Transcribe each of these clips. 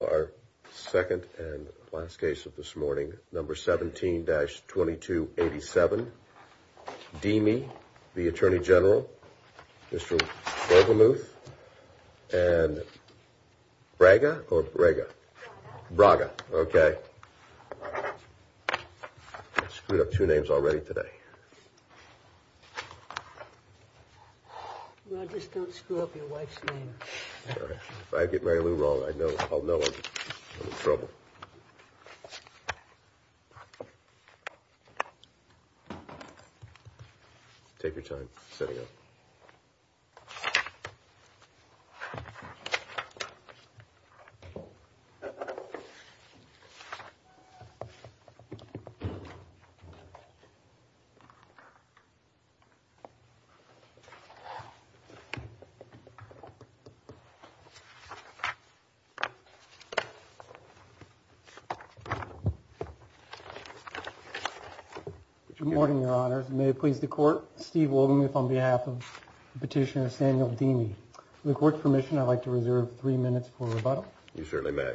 Our second and last case of this morning, No. 17-2287, Deemi v. Atty Gen, Mr. Volgemuth, and Braga, or Braga? Braga, okay. I screwed up two names already today. Just don't screw up your wife's name. If I get Mary Lou wrong, I'll know I'm in trouble. Take your time setting up. Good morning, Your Honors. May it please the Court, Steve Volgemuth on behalf of Petitioner Samuel Deemi. With the Court's permission, I'd like to reserve three minutes for rebuttal. You certainly may.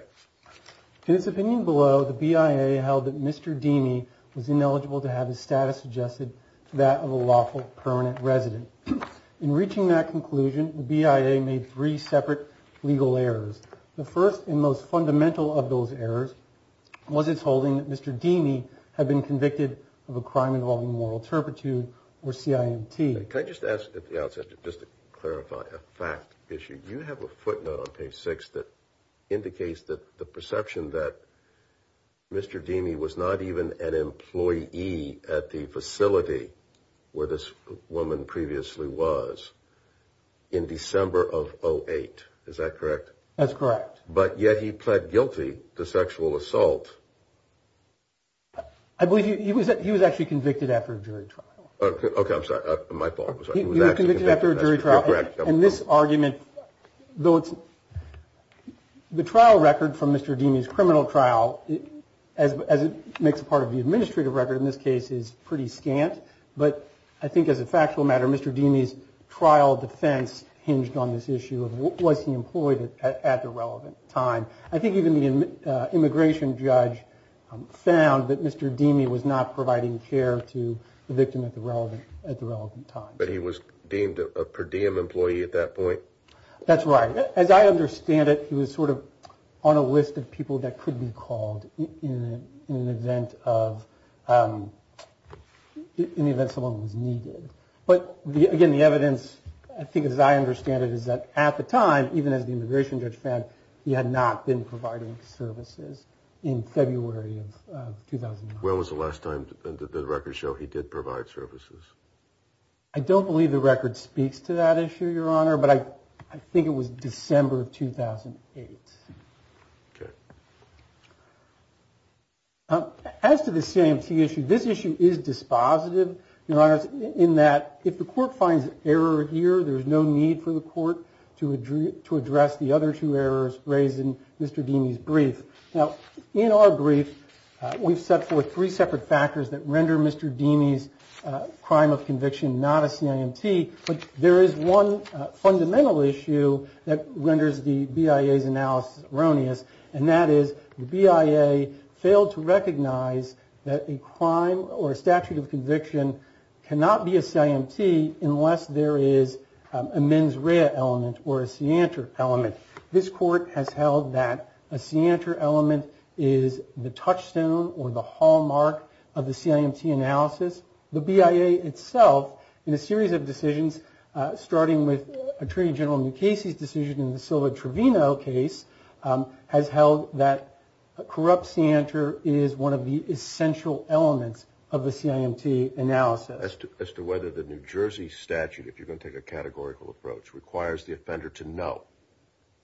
In his opinion below, the BIA held that Mr. Deemi was ineligible to have his status adjusted to that of a lawful permanent resident. In reaching that conclusion, the BIA made three separate legal errors. The first and most fundamental of those errors was its holding that Mr. Deemi had been convicted of a crime involving moral turpitude, or CIMT. Can I just ask at the outset, just to clarify, a fact issue. You have a footnote on page six that indicates the perception that Mr. Deemi was not even an employee at the facility where this woman previously was in December of 08. Is that correct? That's correct. But yet he pled guilty to sexual assault. I believe he was he was actually convicted after a jury trial. OK, I'm sorry. My fault. He was actually convicted after a jury trial. And this argument, though, it's the trial record from Mr. Deemi's criminal trial, as it makes a part of the administrative record in this case, is pretty scant. But I think as a factual matter, Mr. Deemi's trial defense hinged on this issue of what was he employed at the relevant time. I think even the immigration judge found that Mr. Deemi was not providing care to the victim at the relevant at the relevant time. But he was deemed a per diem employee at that point. That's right. As I understand it, he was sort of on a list of people that could be called in an event of in the event someone was needed. But again, the evidence, I think, as I understand it, is that at the time, even as the immigration judge found he had not been providing services in February of 2009. When was the last time the records show he did provide services? I don't believe the record speaks to that issue, Your Honor. But I think it was December of 2008. As to the CMT issue, this issue is dispositive, Your Honor, in that if the court finds error here, there is no need for the court to to address the other two errors raised in Mr. Deemi's brief. Now, in our brief, we've set forth three separate factors that render Mr. Deemi's crime of conviction not a CIMT. But there is one fundamental issue that renders the BIA's analysis erroneous, and that is the BIA failed to recognize that a crime or statute of conviction cannot be a CIMT unless there is a mens rea element or a seantor element. This court has held that a seantor element is the touchstone or the hallmark of the CIMT analysis. The BIA itself, in a series of decisions, starting with Attorney General Mukasey's decision in the Silva Trevino case, has held that a corrupt seantor is one of the essential elements of the CIMT analysis. As to whether the New Jersey statute, if you're going to take a categorical approach, requires the offender to know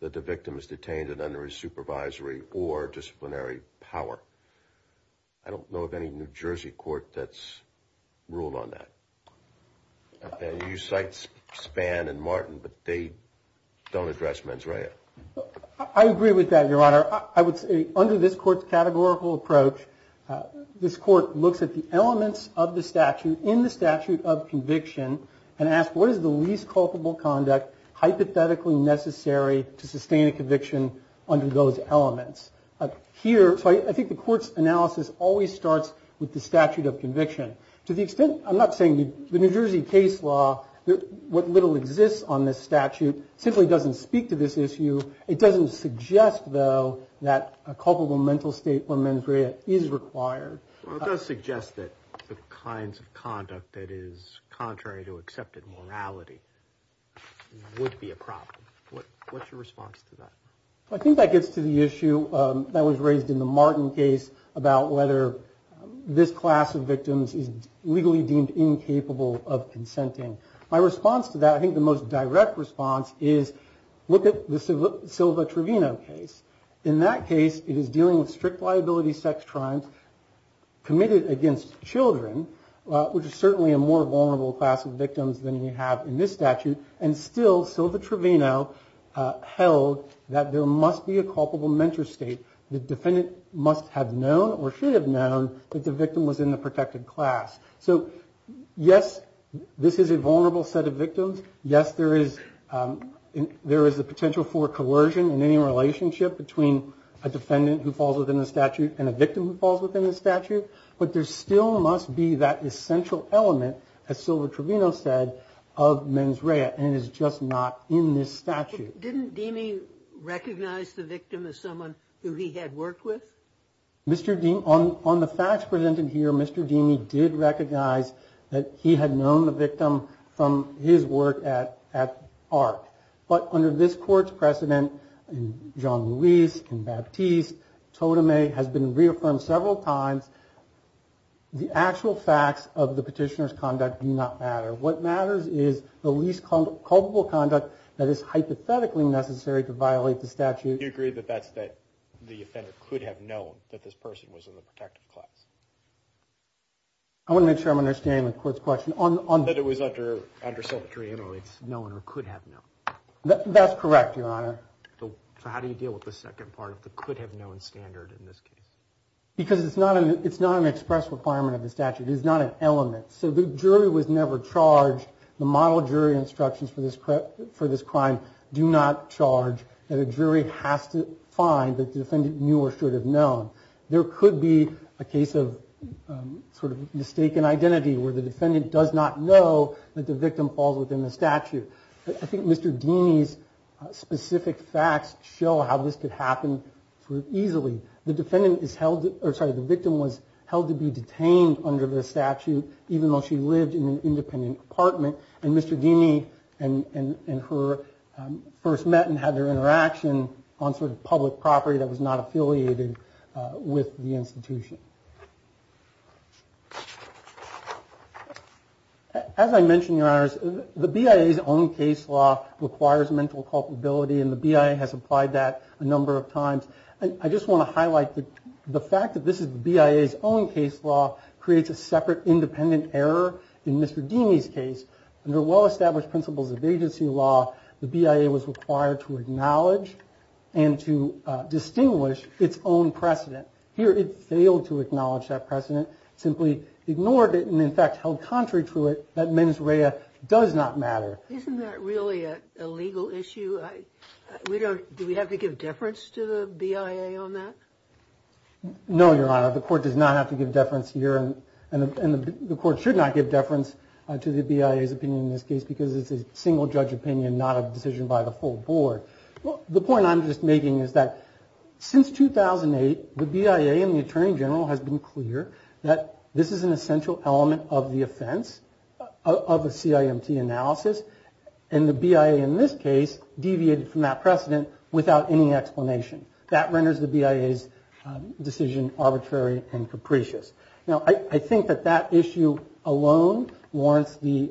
that the victim is detained and under his supervisory or disciplinary power. I don't know of any New Jersey court that's ruled on that. You cite Spann and Martin, but they don't address mens rea. I agree with that, Your Honor. Under this court's categorical approach, this court looks at the elements of the statute in the statute of conviction and asks what is the least culpable conduct hypothetically necessary to sustain a conviction under those elements. Here, I think the court's analysis always starts with the statute of conviction. To the extent, I'm not saying the New Jersey case law, what little exists on this statute, simply doesn't speak to this issue. It doesn't suggest, though, that a culpable mental state or mens rea is required. It does suggest that the kinds of conduct that is contrary to accepted morality would be a problem. What's your response to that? I think that gets to the issue that was raised in the Martin case about whether this class of victims is legally deemed incapable of consenting. My response to that, I think the most direct response, is look at the Silva-Trevino case. In that case, it is dealing with strict liability sex crimes committed against children, which is certainly a more vulnerable class of victims than we have in this statute. And still, Silva-Trevino held that there must be a culpable mental state. The defendant must have known or should have known that the victim was in the protected class. So, yes, this is a vulnerable set of victims. Yes, there is a potential for coercion in any relationship between a defendant who falls within the statute and a victim who falls within the statute. But there still must be that essential element, as Silva-Trevino said, of mens rea, and it is just not in this statute. Didn't Deamey recognize the victim as someone who he had worked with? Mr. Deamey, on the facts presented here, Mr. Deamey did recognize that he had known the victim from his work at AHRQ. But under this court's precedent, in Jean-Louis, in Baptiste, Totemay, has been reaffirmed several times, the actual facts of the petitioner's conduct do not matter. What matters is the least culpable conduct that is hypothetically necessary to violate the statute. Do you agree that that's that the offender could have known that this person was in the protected class? I want to make sure I'm understanding the court's question. That it was under Silva-Trevino it's known or could have known. That's correct, Your Honor. So how do you deal with the second part of the could have known standard in this case? Because it's not an express requirement of the statute. It is not an element. So the jury was never charged. The model jury instructions for this crime do not charge that a jury has to find that the defendant knew or should have known. There could be a case of sort of mistaken identity where the defendant does not know that the victim falls within the statute. I think Mr. Deamey's specific facts show how this could happen easily. The victim was held to be detained under the statute even though she lived in an independent apartment. And Mr. Deamey and her first met and had their interaction on sort of public property that was not affiliated with the institution. As I mentioned, Your Honors, the BIA's own case law requires mental culpability. And the BIA has applied that a number of times. I just want to highlight the fact that this is the BIA's own case law creates a separate independent error in Mr. Deamey's case. Under well-established principles of agency law, the BIA was required to acknowledge and to distinguish its own precedent. Here it failed to acknowledge that precedent, simply ignored it, and in fact held contrary to it that mens rea does not matter. Isn't that really a legal issue? Do we have to give deference to the BIA on that? No, Your Honor. The court does not have to give deference here. And the court should not give deference to the BIA's opinion in this case because it's a single-judge opinion, not a decision by the full board. The point I'm just making is that since 2008, the BIA and the Attorney General has been clear that this is an essential element of the offense, of a CIMT analysis, and the BIA in this case deviated from that precedent without any explanation. That renders the BIA's decision arbitrary and capricious. Now, I think that that issue alone warrants the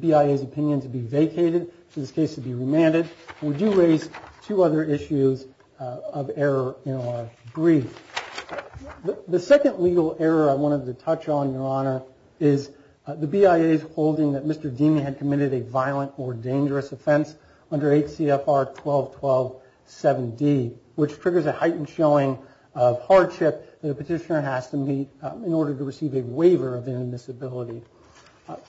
BIA's opinion to be vacated, for this case to be remanded. We do raise two other issues of error in our brief. The second legal error I wanted to touch on, Your Honor, is the BIA's holding that Mr. Deemy had committed a violent or dangerous offense under 8 CFR 12127D, which triggers a heightened showing of hardship that a petitioner has to meet in order to receive a waiver of inadmissibility.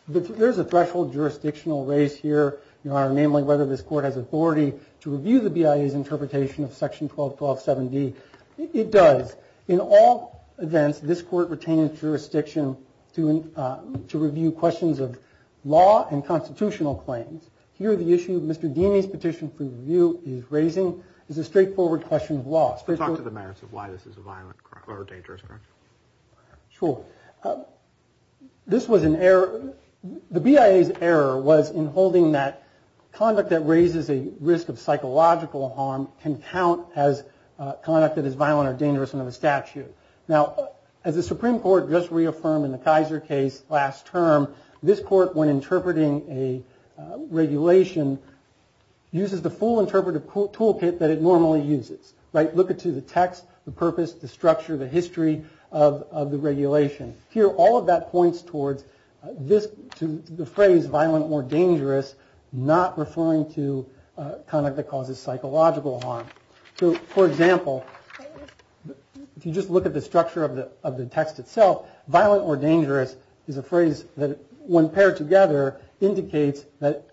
There's a threshold jurisdictional race here, Your Honor, namely whether this court has authority to review the BIA's interpretation of Section 12127D. It does. In all events, this court retains jurisdiction to review questions of law and constitutional claims. Here, the issue Mr. Deemy's petition for review is raising is a straightforward question of law. Talk to the merits of why this is a violent or dangerous crime. Sure. This was an error. The BIA's error was in holding that conduct that raises a risk of psychological harm can count as conduct that is violent or dangerous under the statute. Now, as the Supreme Court just reaffirmed in the Kaiser case last term, this court, when interpreting a regulation, uses the full interpretive toolkit that it normally uses. Look at the text, the purpose, the structure, the history of the regulation. Here, all of that points towards the phrase violent or dangerous, not referring to conduct that causes psychological harm. So, for example, if you just look at the structure of the text itself, violent or dangerous is a phrase that, when paired together, indicates that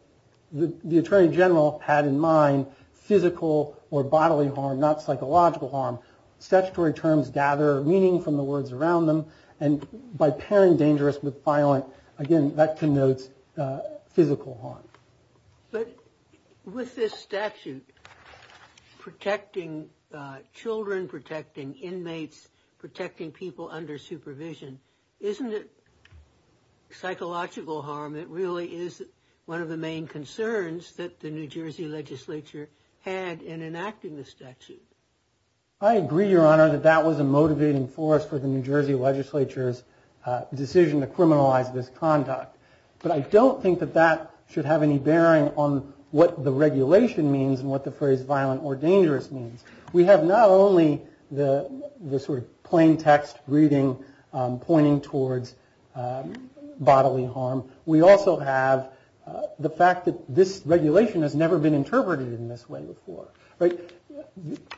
the attorney general had in mind physical or bodily harm, not psychological harm. Statutory terms gather meaning from the words around them. And by pairing dangerous with violent, again, that connotes physical harm. But with this statute protecting children, protecting inmates, protecting people under supervision, isn't it psychological harm? It really is one of the main concerns that the New Jersey legislature had in enacting the statute. I agree, Your Honor, that that was a motivating force for the New Jersey legislature's decision to criminalize this conduct. But I don't think that that should have any bearing on what the regulation means and what the phrase violent or dangerous means. We have not only the sort of plain text reading pointing towards bodily harm, we also have the fact that this regulation has never been interpreted in this way before.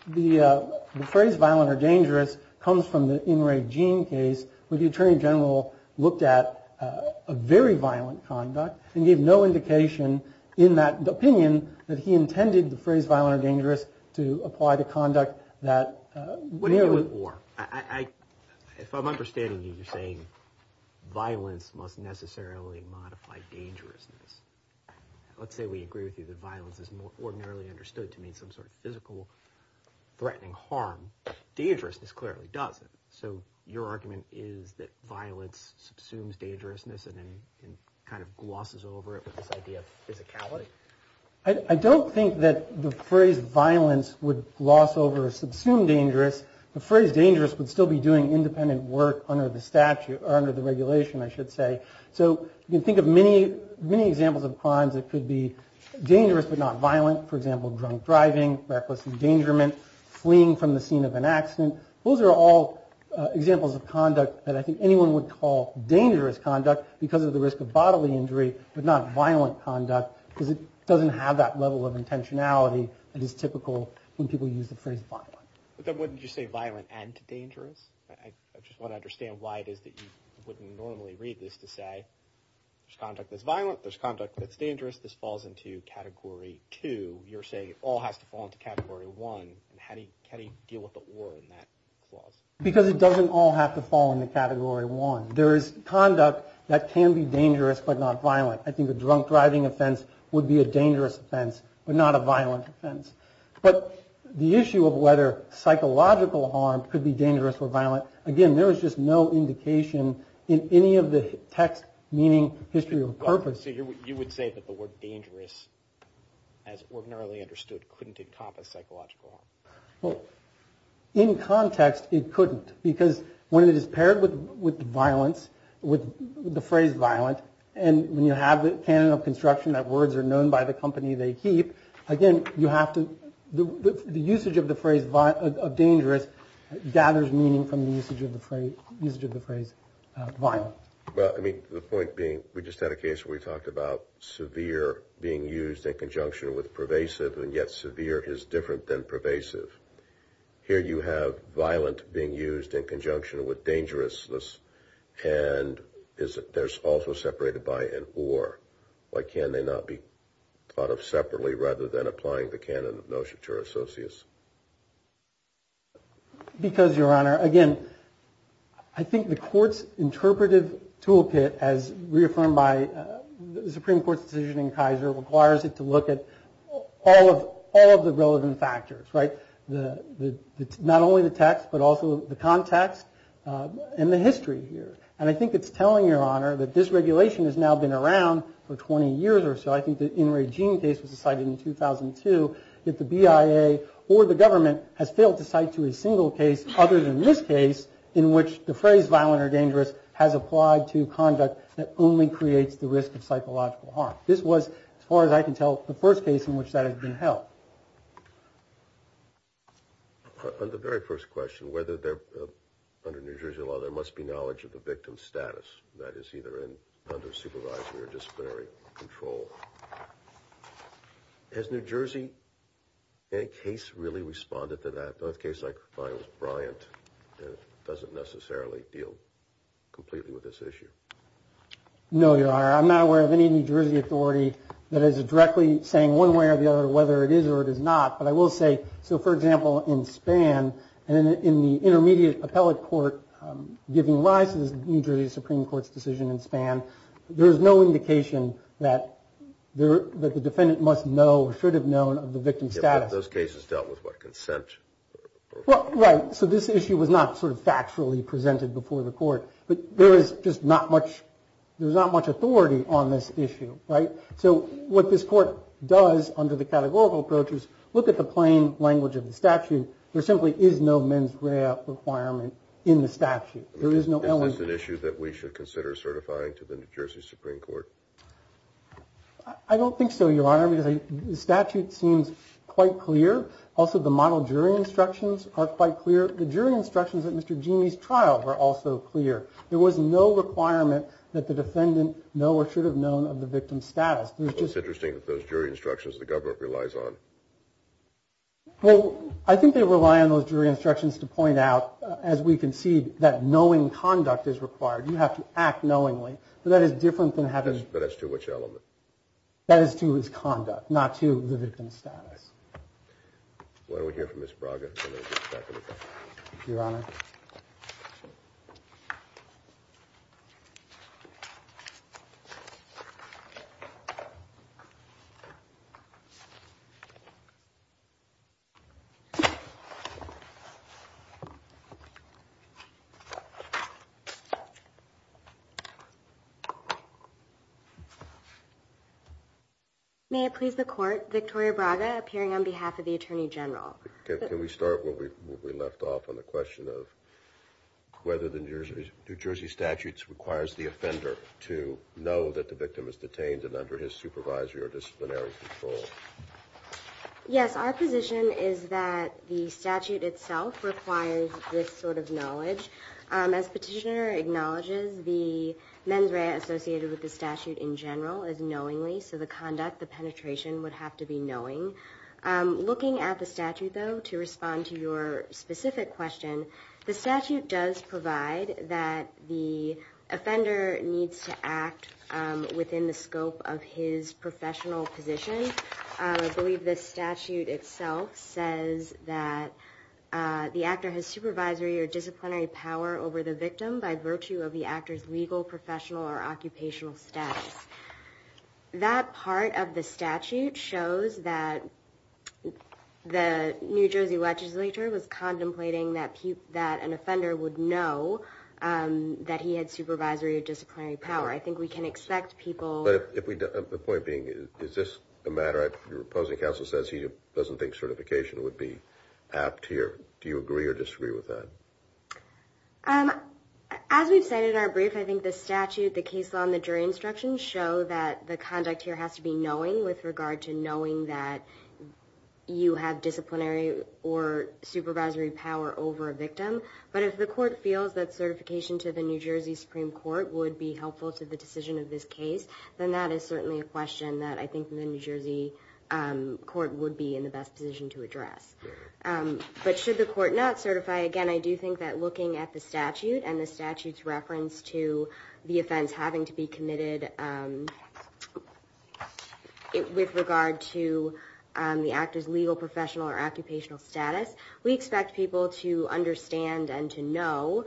The phrase violent or dangerous comes from the In Re Gene case, where the attorney general looked at a very violent conduct and gave no indication in that opinion that he intended the phrase violent or dangerous to apply to conduct that... If I'm understanding you, you're saying violence must necessarily modify dangerousness. Let's say we agree with you that violence is ordinarily understood to mean some sort of physical threatening harm. Dangerousness clearly doesn't. So your argument is that violence subsumes dangerousness and kind of glosses over it with this idea of physicality? I don't think that the phrase violence would gloss over or subsume dangerous. The phrase dangerous would still be doing independent work under the regulation, I should say. So you can think of many examples of crimes that could be dangerous but not violent. For example, drunk driving, reckless endangerment, fleeing from the scene of an accident. Those are all examples of conduct that I think anyone would call dangerous conduct because of the risk of bodily injury, but not violent conduct because it doesn't have that level of intentionality that is typical when people use the phrase violent. But then wouldn't you say violent and dangerous? I just want to understand why it is that you wouldn't normally read this to say there's conduct that's violent, there's conduct that's dangerous, this falls into Category 2. You're saying it all has to fall into Category 1. How do you deal with the or in that clause? Because it doesn't all have to fall into Category 1. There is conduct that can be dangerous but not violent. I think a drunk driving offense would be a dangerous offense but not a violent offense. But the issue of whether psychological harm could be dangerous or violent, again, there is just no indication in any of the text meaning history of purpose. So you would say that the word dangerous, as ordinarily understood, couldn't encompass psychological harm? Well, in context it couldn't because when it is paired with violence, with the phrase violent, and when you have the canon of construction that words are known by the company they keep, again, the usage of the phrase dangerous gathers meaning from the usage of the phrase violent. Well, I mean, the point being we just had a case where we talked about severe being used in conjunction with pervasive and yet severe is different than pervasive. Here you have violent being used in conjunction with dangerousness and they're also separated by an or. Why can't they not be thought of separately rather than applying the canon of notion to our associates? Because, Your Honor, again, I think the court's interpretive toolkit as reaffirmed by the Supreme Court's decision in Kaiser requires it to look at all of the relevant factors, right? Not only the text but also the context and the history here. And I think it's telling, Your Honor, that this regulation has now been around for 20 years or so. I think the in regime case was decided in 2002 that the BIA or the government has failed to cite to a single case other than this case in which the phrase violent or dangerous has applied to conduct that only creates the risk of psychological harm. This was, as far as I can tell, the first case in which that has been held. On the very first question, whether they're under New Jersey law, there must be knowledge of the victim's status that is either under supervisory or disciplinary control. Has New Jersey case really responded to that? A case like Brian's doesn't necessarily deal completely with this issue. No, Your Honor, I'm not aware of any New Jersey authority that is directly saying one way or the other whether it is or it is not, but I will say, so for example, in Spann, in the intermediate appellate court giving rise to this New Jersey Supreme Court's decision in Spann, there is no indication that the defendant must know or should have known of the victim's status. Those cases dealt with by consent. Right, so this issue was not sort of factually presented before the court, but there is just not much authority on this issue, right? So what this court does under the categorical approach is look at the plain language of the statute. There simply is no mens rea requirement in the statute. Is this an issue that we should consider certifying to the New Jersey Supreme Court? I don't think so, Your Honor, because the statute seems quite clear. Also, the model jury instructions are quite clear. The jury instructions at Mr. Genie's trial were also clear. There was no requirement that the defendant know or should have known of the victim's status. It's interesting that those jury instructions the government relies on. Well, I think they rely on those jury instructions to point out, as we concede, that knowing conduct is required. You have to act knowingly. But that is different than having... But that's to which element? That is to his conduct, not to the victim's status. Why don't we hear from Ms. Braga and then we'll get back to the court. Your Honor. Thank you. May it please the Court, Victoria Braga appearing on behalf of the Attorney General. Can we start where we left off on the question of whether the New Jersey statute requires the offender to know that the victim is detained and under his supervisory or disciplinary control? Yes, our position is that the statute itself requires this sort of knowledge. As Petitioner acknowledges, the mens rea associated with the statute in general is knowingly, so the conduct, the penetration would have to be knowing. Looking at the statute, though, to respond to your specific question, the statute does provide that the offender needs to act within the scope of his professional position. I believe the statute itself says that the actor has supervisory or disciplinary power over the victim by virtue of the actor's legal, professional, or occupational status. That part of the statute shows that the New Jersey legislature was contemplating that an offender would know that he had supervisory or disciplinary power. I think we can expect people... But the point being, is this a matter... Your opposing counsel says he doesn't think certification would be apt here. Do you agree or disagree with that? As we've said in our brief, I think the statute, the case law, and the jury instructions show that the conduct here has to be knowing with regard to knowing that you have disciplinary or supervisory power over a victim. But if the court feels that certification to the New Jersey Supreme Court would be helpful to the decision of this case, then that is certainly a question that I think the New Jersey court would be in the best position to address. But should the court not certify? Again, I do think that looking at the statute and the statute's reference to the offense having to be committed with regard to the actor's legal, professional, or occupational status, we expect people to understand and to know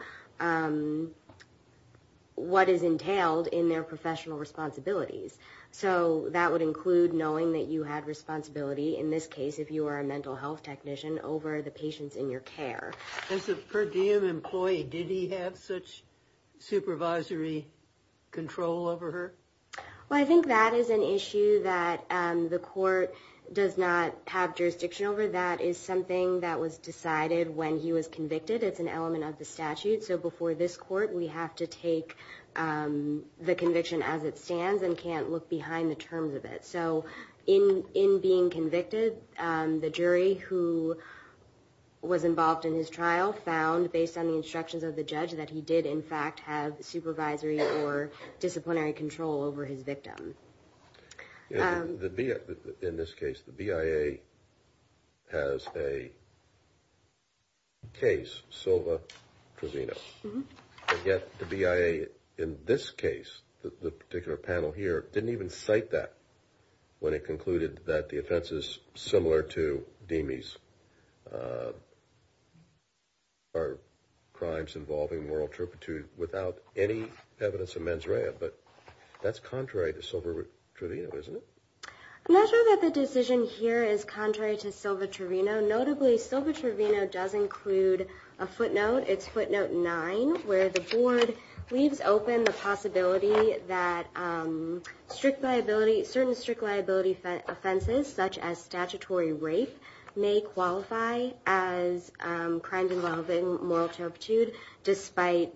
what is entailed in their professional responsibilities. So that would include knowing that you had responsibility, in this case, if you were a mental health technician, over the patients in your care. As a per diem employee, did he have such supervisory control over her? Well, I think that is an issue that the court does not have jurisdiction over. That is something that was decided when he was convicted. It's an element of the statute. So before this court, we have to take the conviction as it stands and can't look behind the terms of it. So in being convicted, the jury who was involved in his trial found, based on the instructions of the judge, that he did, in fact, have supervisory or disciplinary control over his victim. In this case, the BIA has a case, Silva-Trevino. And yet, the BIA, in this case, the particular panel here, didn't even cite that when it concluded that the offenses similar to Deme's are crimes involving moral turpitude without any evidence of mens rea. But that's contrary to Silva-Trevino, isn't it? I'm not sure that the decision here is contrary to Silva-Trevino. Notably, Silva-Trevino does include a footnote. It's footnote 9, where the board leaves open the possibility that certain strict liability offenses, such as statutory rape, may qualify as crimes involving moral turpitude, despite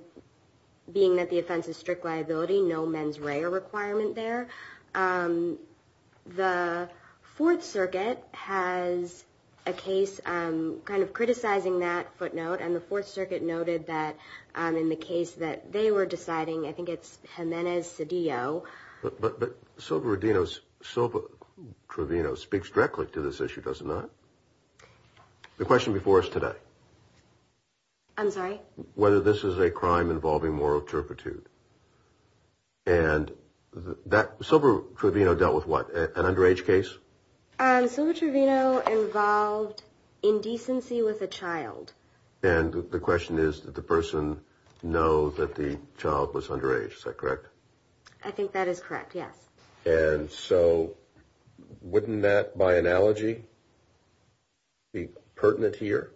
being that the offense is strict liability, no mens rea requirement there. The Fourth Circuit has a case kind of criticizing that footnote, and the Fourth Circuit noted that in the case that they were deciding, I think it's Jimenez-Cedillo. But Silva-Trevino speaks directly to this issue, does it not? The question before us today. I'm sorry? Whether this is a crime involving moral turpitude. And Silva-Trevino dealt with what, an underage case? Silva-Trevino involved indecency with a child. And the question is, did the person know that the child was underage? Is that correct? I think that is correct, yes. And so, wouldn't that, by analogy, be pertinent here?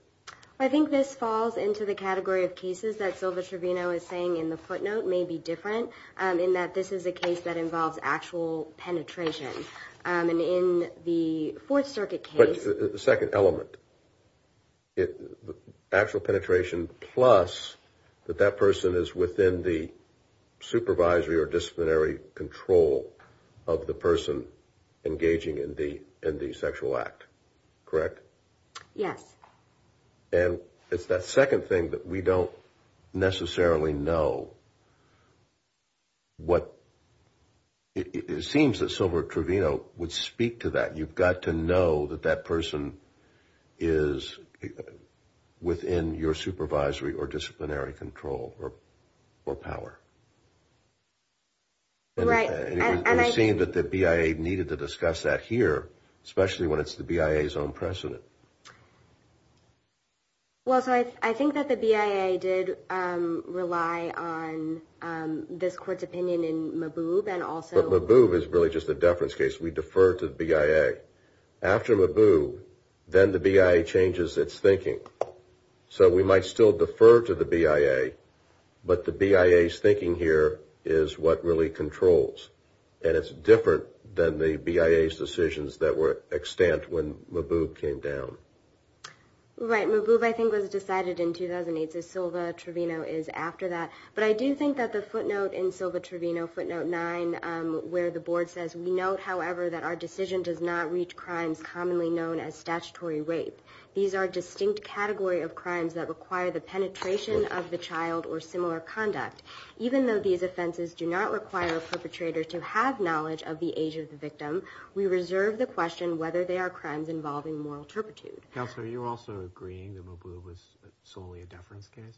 I think this falls into the category of cases that Silva-Trevino is saying in the footnote may be different, in that this is a case that involves actual penetration. And in the Fourth Circuit case... The second element. Actual penetration plus that that person is within the supervisory or disciplinary control of the person engaging in the sexual act. Correct? Yes. And it's that second thing that we don't necessarily know what... It seems that Silva-Trevino would speak to that. You've got to know that that person is within your supervisory or disciplinary control or power. Right. And it would seem that the BIA needed to discuss that here, especially when it's the BIA's own precedent. Well, so I think that the BIA did rely on this court's opinion in Maboub and also... But Maboub is really just a deference case. We defer to the BIA. After Maboub, then the BIA changes its thinking. So we might still defer to the BIA, but the BIA's thinking here is what really controls. And it's different than the BIA's decisions that were extant when Maboub came down. Right. Maboub, I think, was decided in 2008. So Silva-Trevino is after that. But I do think that the footnote in Silva-Trevino, footnote 9, where the board says, We note, however, that our decision does not reach crimes commonly known as statutory rape. These are a distinct category of crimes that require the penetration of the child or similar conduct. Even though these offenses do not require a perpetrator to have knowledge of the age of the victim, we reserve the question whether they are crimes involving moral turpitude. Counselor, are you also agreeing that Maboub was solely a deference case?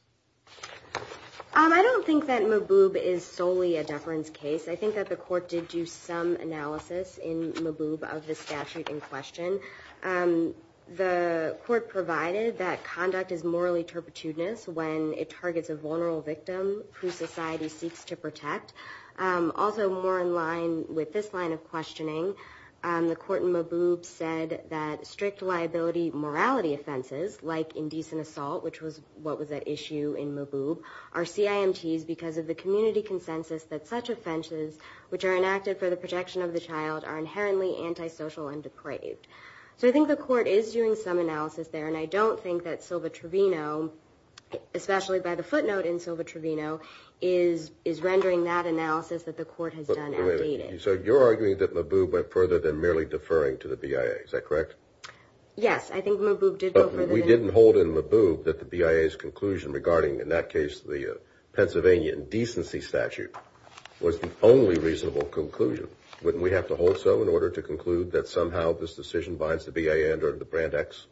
I don't think that Maboub is solely a deference case. I think that the court did do some analysis in Maboub of the statute in question. The court provided that conduct is morally turpitudinous when it targets a vulnerable victim who society seeks to protect. Also, more in line with this line of questioning, the court in Maboub said that strict liability morality offenses, like indecent assault, which was what was at issue in Maboub, are CIMTs because of the community consensus that such offenses, which are enacted for the protection of the child, are inherently antisocial and depraved. So I think the court is doing some analysis there, and I don't think that Silva-Trevino, especially by the footnote in Silva-Trevino, is rendering that analysis that the court has done outdated. So you're arguing that Maboub went further than merely deferring to the BIA. Yes, I think Maboub did go further than that. We didn't hold in Maboub that the BIA's conclusion regarding, in that case, the Pennsylvania indecency statute, was the only reasonable conclusion. Wouldn't we have to hold so in order to conclude that somehow this decision binds the BIA under the Brand X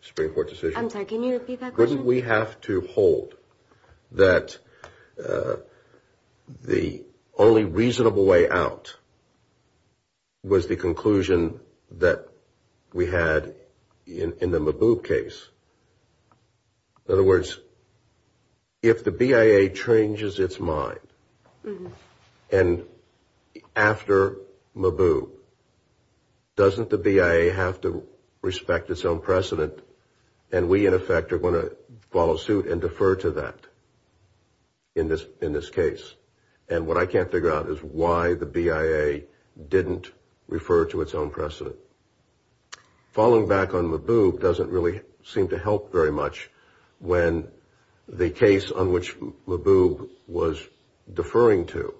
Supreme Court decision? I'm sorry, can you repeat that question? Wouldn't we have to hold that the only reasonable way out was the conclusion that we had in the Maboub case? In other words, if the BIA changes its mind, and after Maboub, doesn't the BIA have to respect its own precedent, and we, in effect, are going to follow suit and defer to that in this case? And what I can't figure out is why the BIA didn't refer to its own precedent. Falling back on Maboub doesn't really seem to help very much when the case on which Maboub was deferring to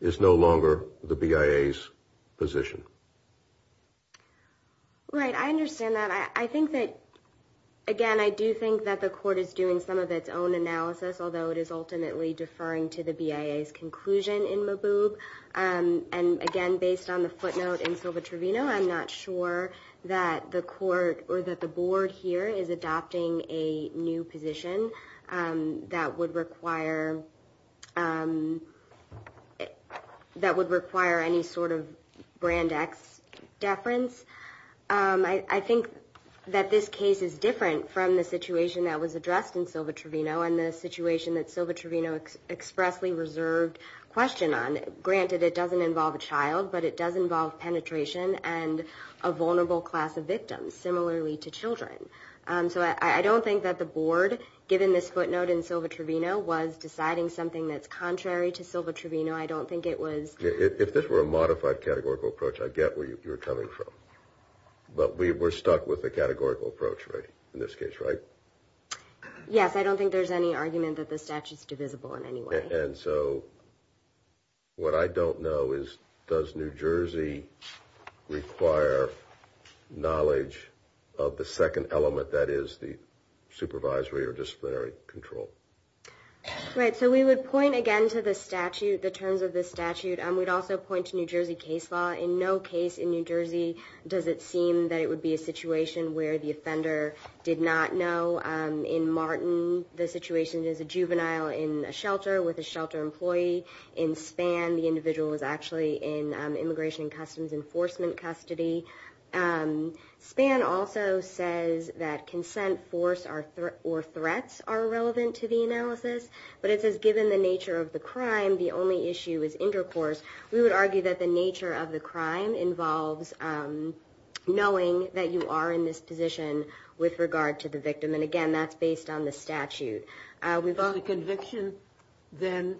is no longer the BIA's position. Right, I understand that. I think that, again, I do think that the court is doing some of its own analysis, although it is ultimately deferring to the BIA's conclusion in Maboub. And again, based on the footnote in Silva-Trevino, I'm not sure that the court or that the board here is adopting a new position that would require any sort of Brand X deference. I think that this case is different from the situation that was addressed in Silva-Trevino and the situation that Silva-Trevino expressly reserved question on. Granted, it doesn't involve a child, but it does involve penetration and a vulnerable class of victims, similarly to children. So I don't think that the board, given this footnote in Silva-Trevino, was deciding something that's contrary to Silva-Trevino. I don't think it was... If this were a modified categorical approach, I get where you're coming from. But we're stuck with the categorical approach, right, in this case, right? Yes, I don't think there's any argument that the statute's divisible in any way. And so what I don't know is, does New Jersey require knowledge of the second element, that is the supervisory or disciplinary control? Right, so we would point again to the statute, the terms of the statute. We'd also point to New Jersey case law. In no case in New Jersey does it seem that it would be a situation where the offender did not know. In Martin, the situation is a juvenile in a shelter with a shelter employee. In Spann, the individual was actually in Immigration and Customs Enforcement custody. Spann also says that consent, force, or threats are relevant to the analysis. But it says, given the nature of the crime, the only issue is intercourse. We would argue that the nature of the crime involves knowing that you are in this position with regard to the victim. And again, that's based on the statute. Does the conviction then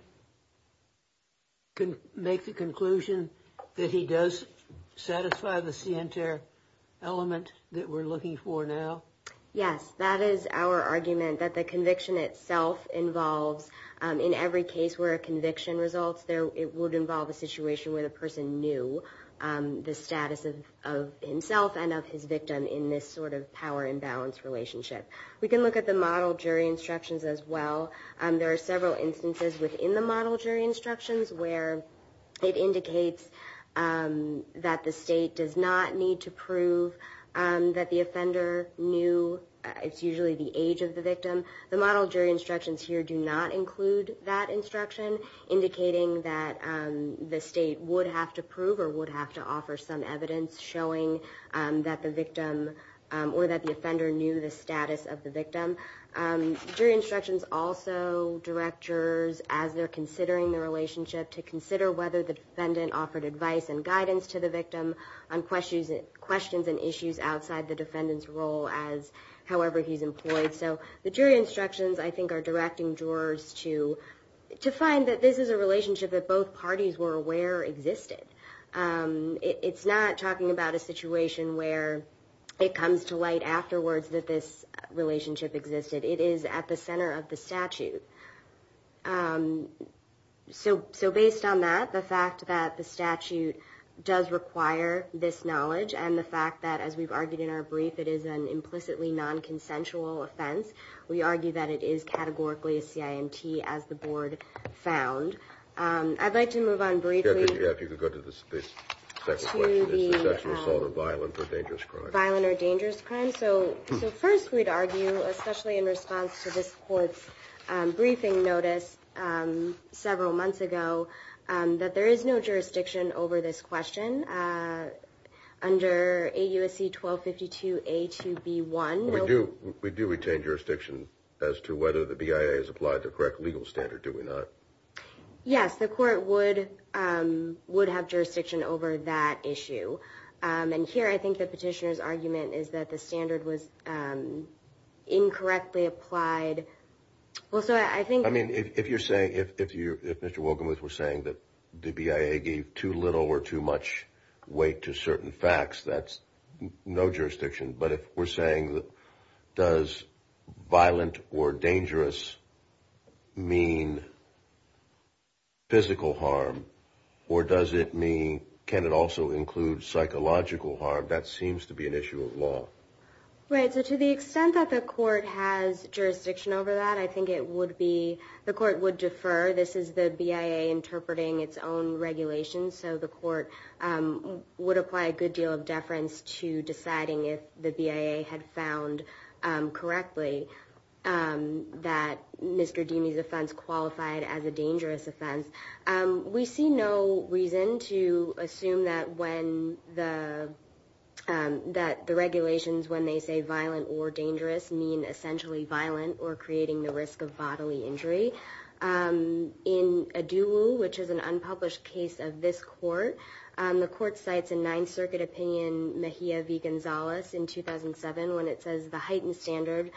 make the conclusion that he does satisfy the scienter element that we're looking for now? Yes, that is our argument, that the conviction itself involves, in every case where a conviction results, it would involve a situation where the person knew the status of himself and of his victim in this sort of power imbalance relationship. We can look at the model jury instructions as well. There are several instances within the model jury instructions where it indicates that the state does not need to prove that the offender knew, it's usually the age of the victim. The model jury instructions here do not include that instruction, indicating that the state would have to prove or would have to offer some evidence showing that the victim, or that the offender knew the status of the victim. Jury instructions also direct jurors, as they're considering the relationship, to consider whether the defendant offered advice and guidance to the victim on questions and issues outside the defendant's role, however he's employed. So the jury instructions, I think, are directing jurors to find that this is a relationship that both parties were aware existed. It's not talking about a situation where it comes to light afterwards that this relationship existed. It is at the center of the statute. So based on that, the fact that the statute does require this knowledge, and the fact that, as we've argued in our brief, it is an implicitly non-consensual offense, we argue that it is categorically a CIMT, as the board found. I'd like to move on briefly. Yeah, if you could go to the second question. It's the sexual assault or violent or dangerous crime. Violent or dangerous crime. So first we'd argue, especially in response to this court's briefing notice several months ago, that there is no jurisdiction over this question. Under AUSC 1252A2B1. We do retain jurisdiction as to whether the BIA has applied the correct legal standard, do we not? Yes, the court would have jurisdiction over that issue. And here I think the petitioner's argument is that the standard was incorrectly applied. I mean, if you're saying, if Mr. Wilkenworth was saying that the BIA gave too little or too much weight to certain facts, that's no jurisdiction. But if we're saying, does violent or dangerous mean physical harm, or does it mean, can it also include psychological harm, that seems to be an issue of law. Right, so to the extent that the court has jurisdiction over that, I think it would be, the court would defer. This is the BIA interpreting its own regulations, so the court would apply a good deal of deference to deciding if the BIA had found correctly that Mr. Dini's offense qualified as a dangerous offense. We see no reason to assume that when the, that the regulations when they say violent or dangerous mean essentially violent or creating the risk of bodily injury. In Aduwu, which is an unpublished case of this court, the court cites a Ninth Circuit opinion, Mejia v. Gonzalez, in 2007 when it says, the heightened standard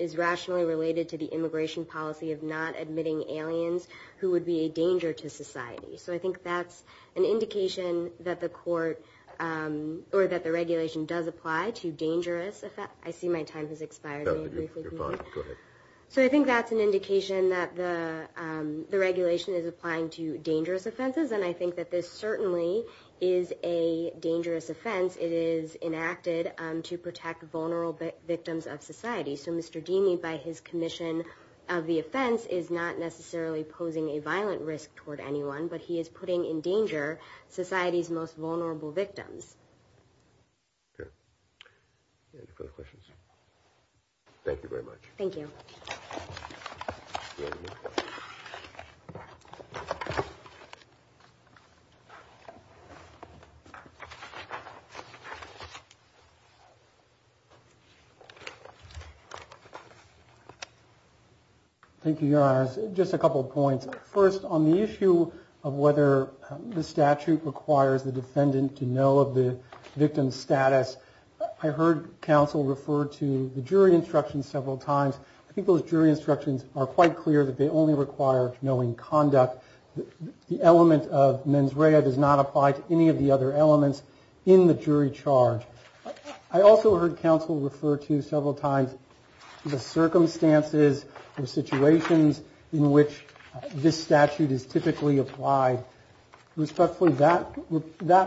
is rationally related to the immigration policy of not admitting aliens who would be a danger to society. So I think that's an indication that the court, or that the regulation does apply to dangerous, I see my time has expired. You're fine, go ahead. So I think that's an indication that the regulation is applying to dangerous offenses, and I think that this certainly is a dangerous offense. It is enacted to protect vulnerable victims of society. So Mr. Dini, by his commission of the offense, is not necessarily posing a violent risk toward anyone, but he is putting in danger society's most vulnerable victims. Okay. Any further questions? Thank you very much. Thank you. Thank you, Your Honors. Just a couple of points. First, on the issue of whether the statute requires the defendant to know of the victim's status, I heard counsel refer to the jury instructions several times. People's jury instructions are quite clear that they only require knowing conduct. The element of mens rea does not apply to any of the other elements in the jury charge. I also heard counsel refer to several times the circumstances or situations in which this statute is typically applied. Respectfully, that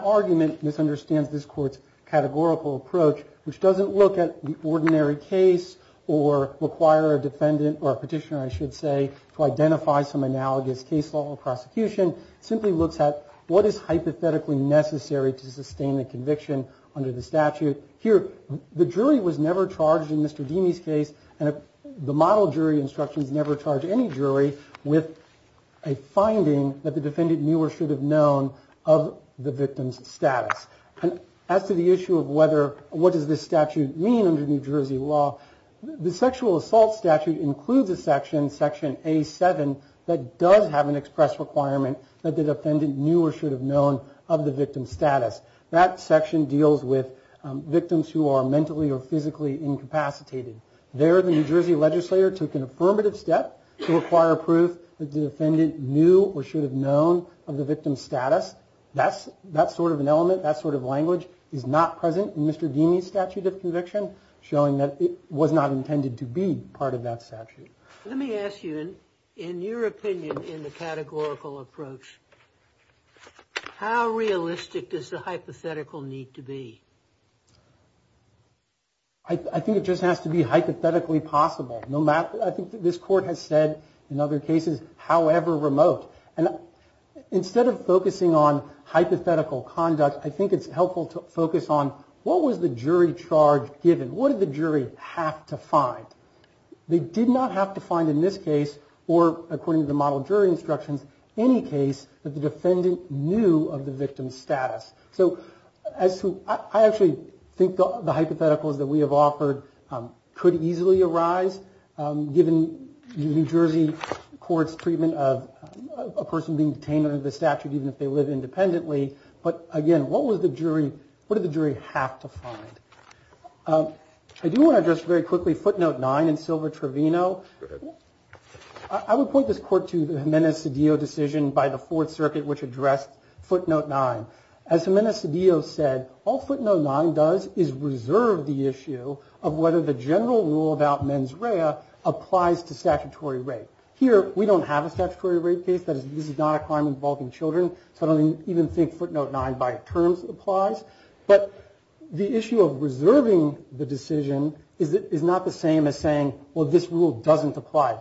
argument misunderstands this court's categorical approach, which doesn't look at the ordinary case or require a defendant or a petitioner, I should say, to identify some analogous case law or prosecution. It simply looks at what is hypothetically necessary to sustain the conviction under the statute. Here, the jury was never charged in Mr. Dini's case, and the model jury instructions never charge any jury with a finding that the defendant knew or should have known of the victim's status. And as to the issue of what does this statute mean under New Jersey law, the sexual assault statute includes a section, section A7, that does have an express requirement that the defendant knew or should have known of the victim's status. That section deals with victims who are mentally or physically incapacitated. There, the New Jersey legislator took an affirmative step to require proof that the defendant knew or should have known of the victim's status. That sort of an element, that sort of language is not present in Mr. Dini's statute of conviction. Showing that it was not intended to be part of that statute. Let me ask you, in your opinion, in the categorical approach, how realistic does the hypothetical need to be? I think it just has to be hypothetically possible. I think this court has said, in other cases, however remote. Instead of focusing on hypothetical conduct, I think it's helpful to focus on what was the jury charge given? What did the jury have to find? They did not have to find, in this case, or according to the model jury instructions, any case that the defendant knew of the victim's status. So, I actually think the hypotheticals that we have offered could easily arise, given the New Jersey court's treatment of a person being detained under the statute, even if they live independently. But again, what did the jury have to find? I do want to address, very quickly, footnote 9 in Silver Trevino. I would point this court to the Jimenez-Cedillo decision by the Fourth Circuit, which addressed footnote 9. As Jimenez-Cedillo said, all footnote 9 does is reserve the issue of whether the general rule about mens rea applies to statutory rape. Here, we don't have a statutory rape case. This is not a crime involving children. So, I don't even think footnote 9, by terms, applies. But the issue of reserving the decision is not the same as saying, well, this rule doesn't apply.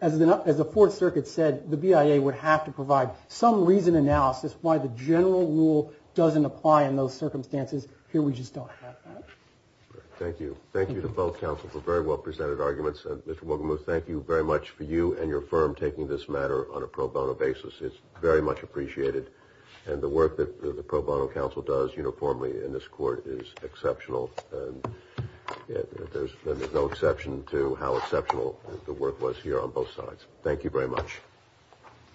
As the Fourth Circuit said, the BIA would have to provide some reasoned analysis why the general rule doesn't apply in those circumstances. Here, we just don't have that. Thank you. Thank you to both counsel for very well-presented arguments. Mr. Mogamuth, thank you very much for you and your firm taking this matter on a pro bono basis. It's very much appreciated. And the work that the pro bono counsel does uniformly in this court is exceptional. There's no exception to how exceptional the work was here on both sides. Thank you very much.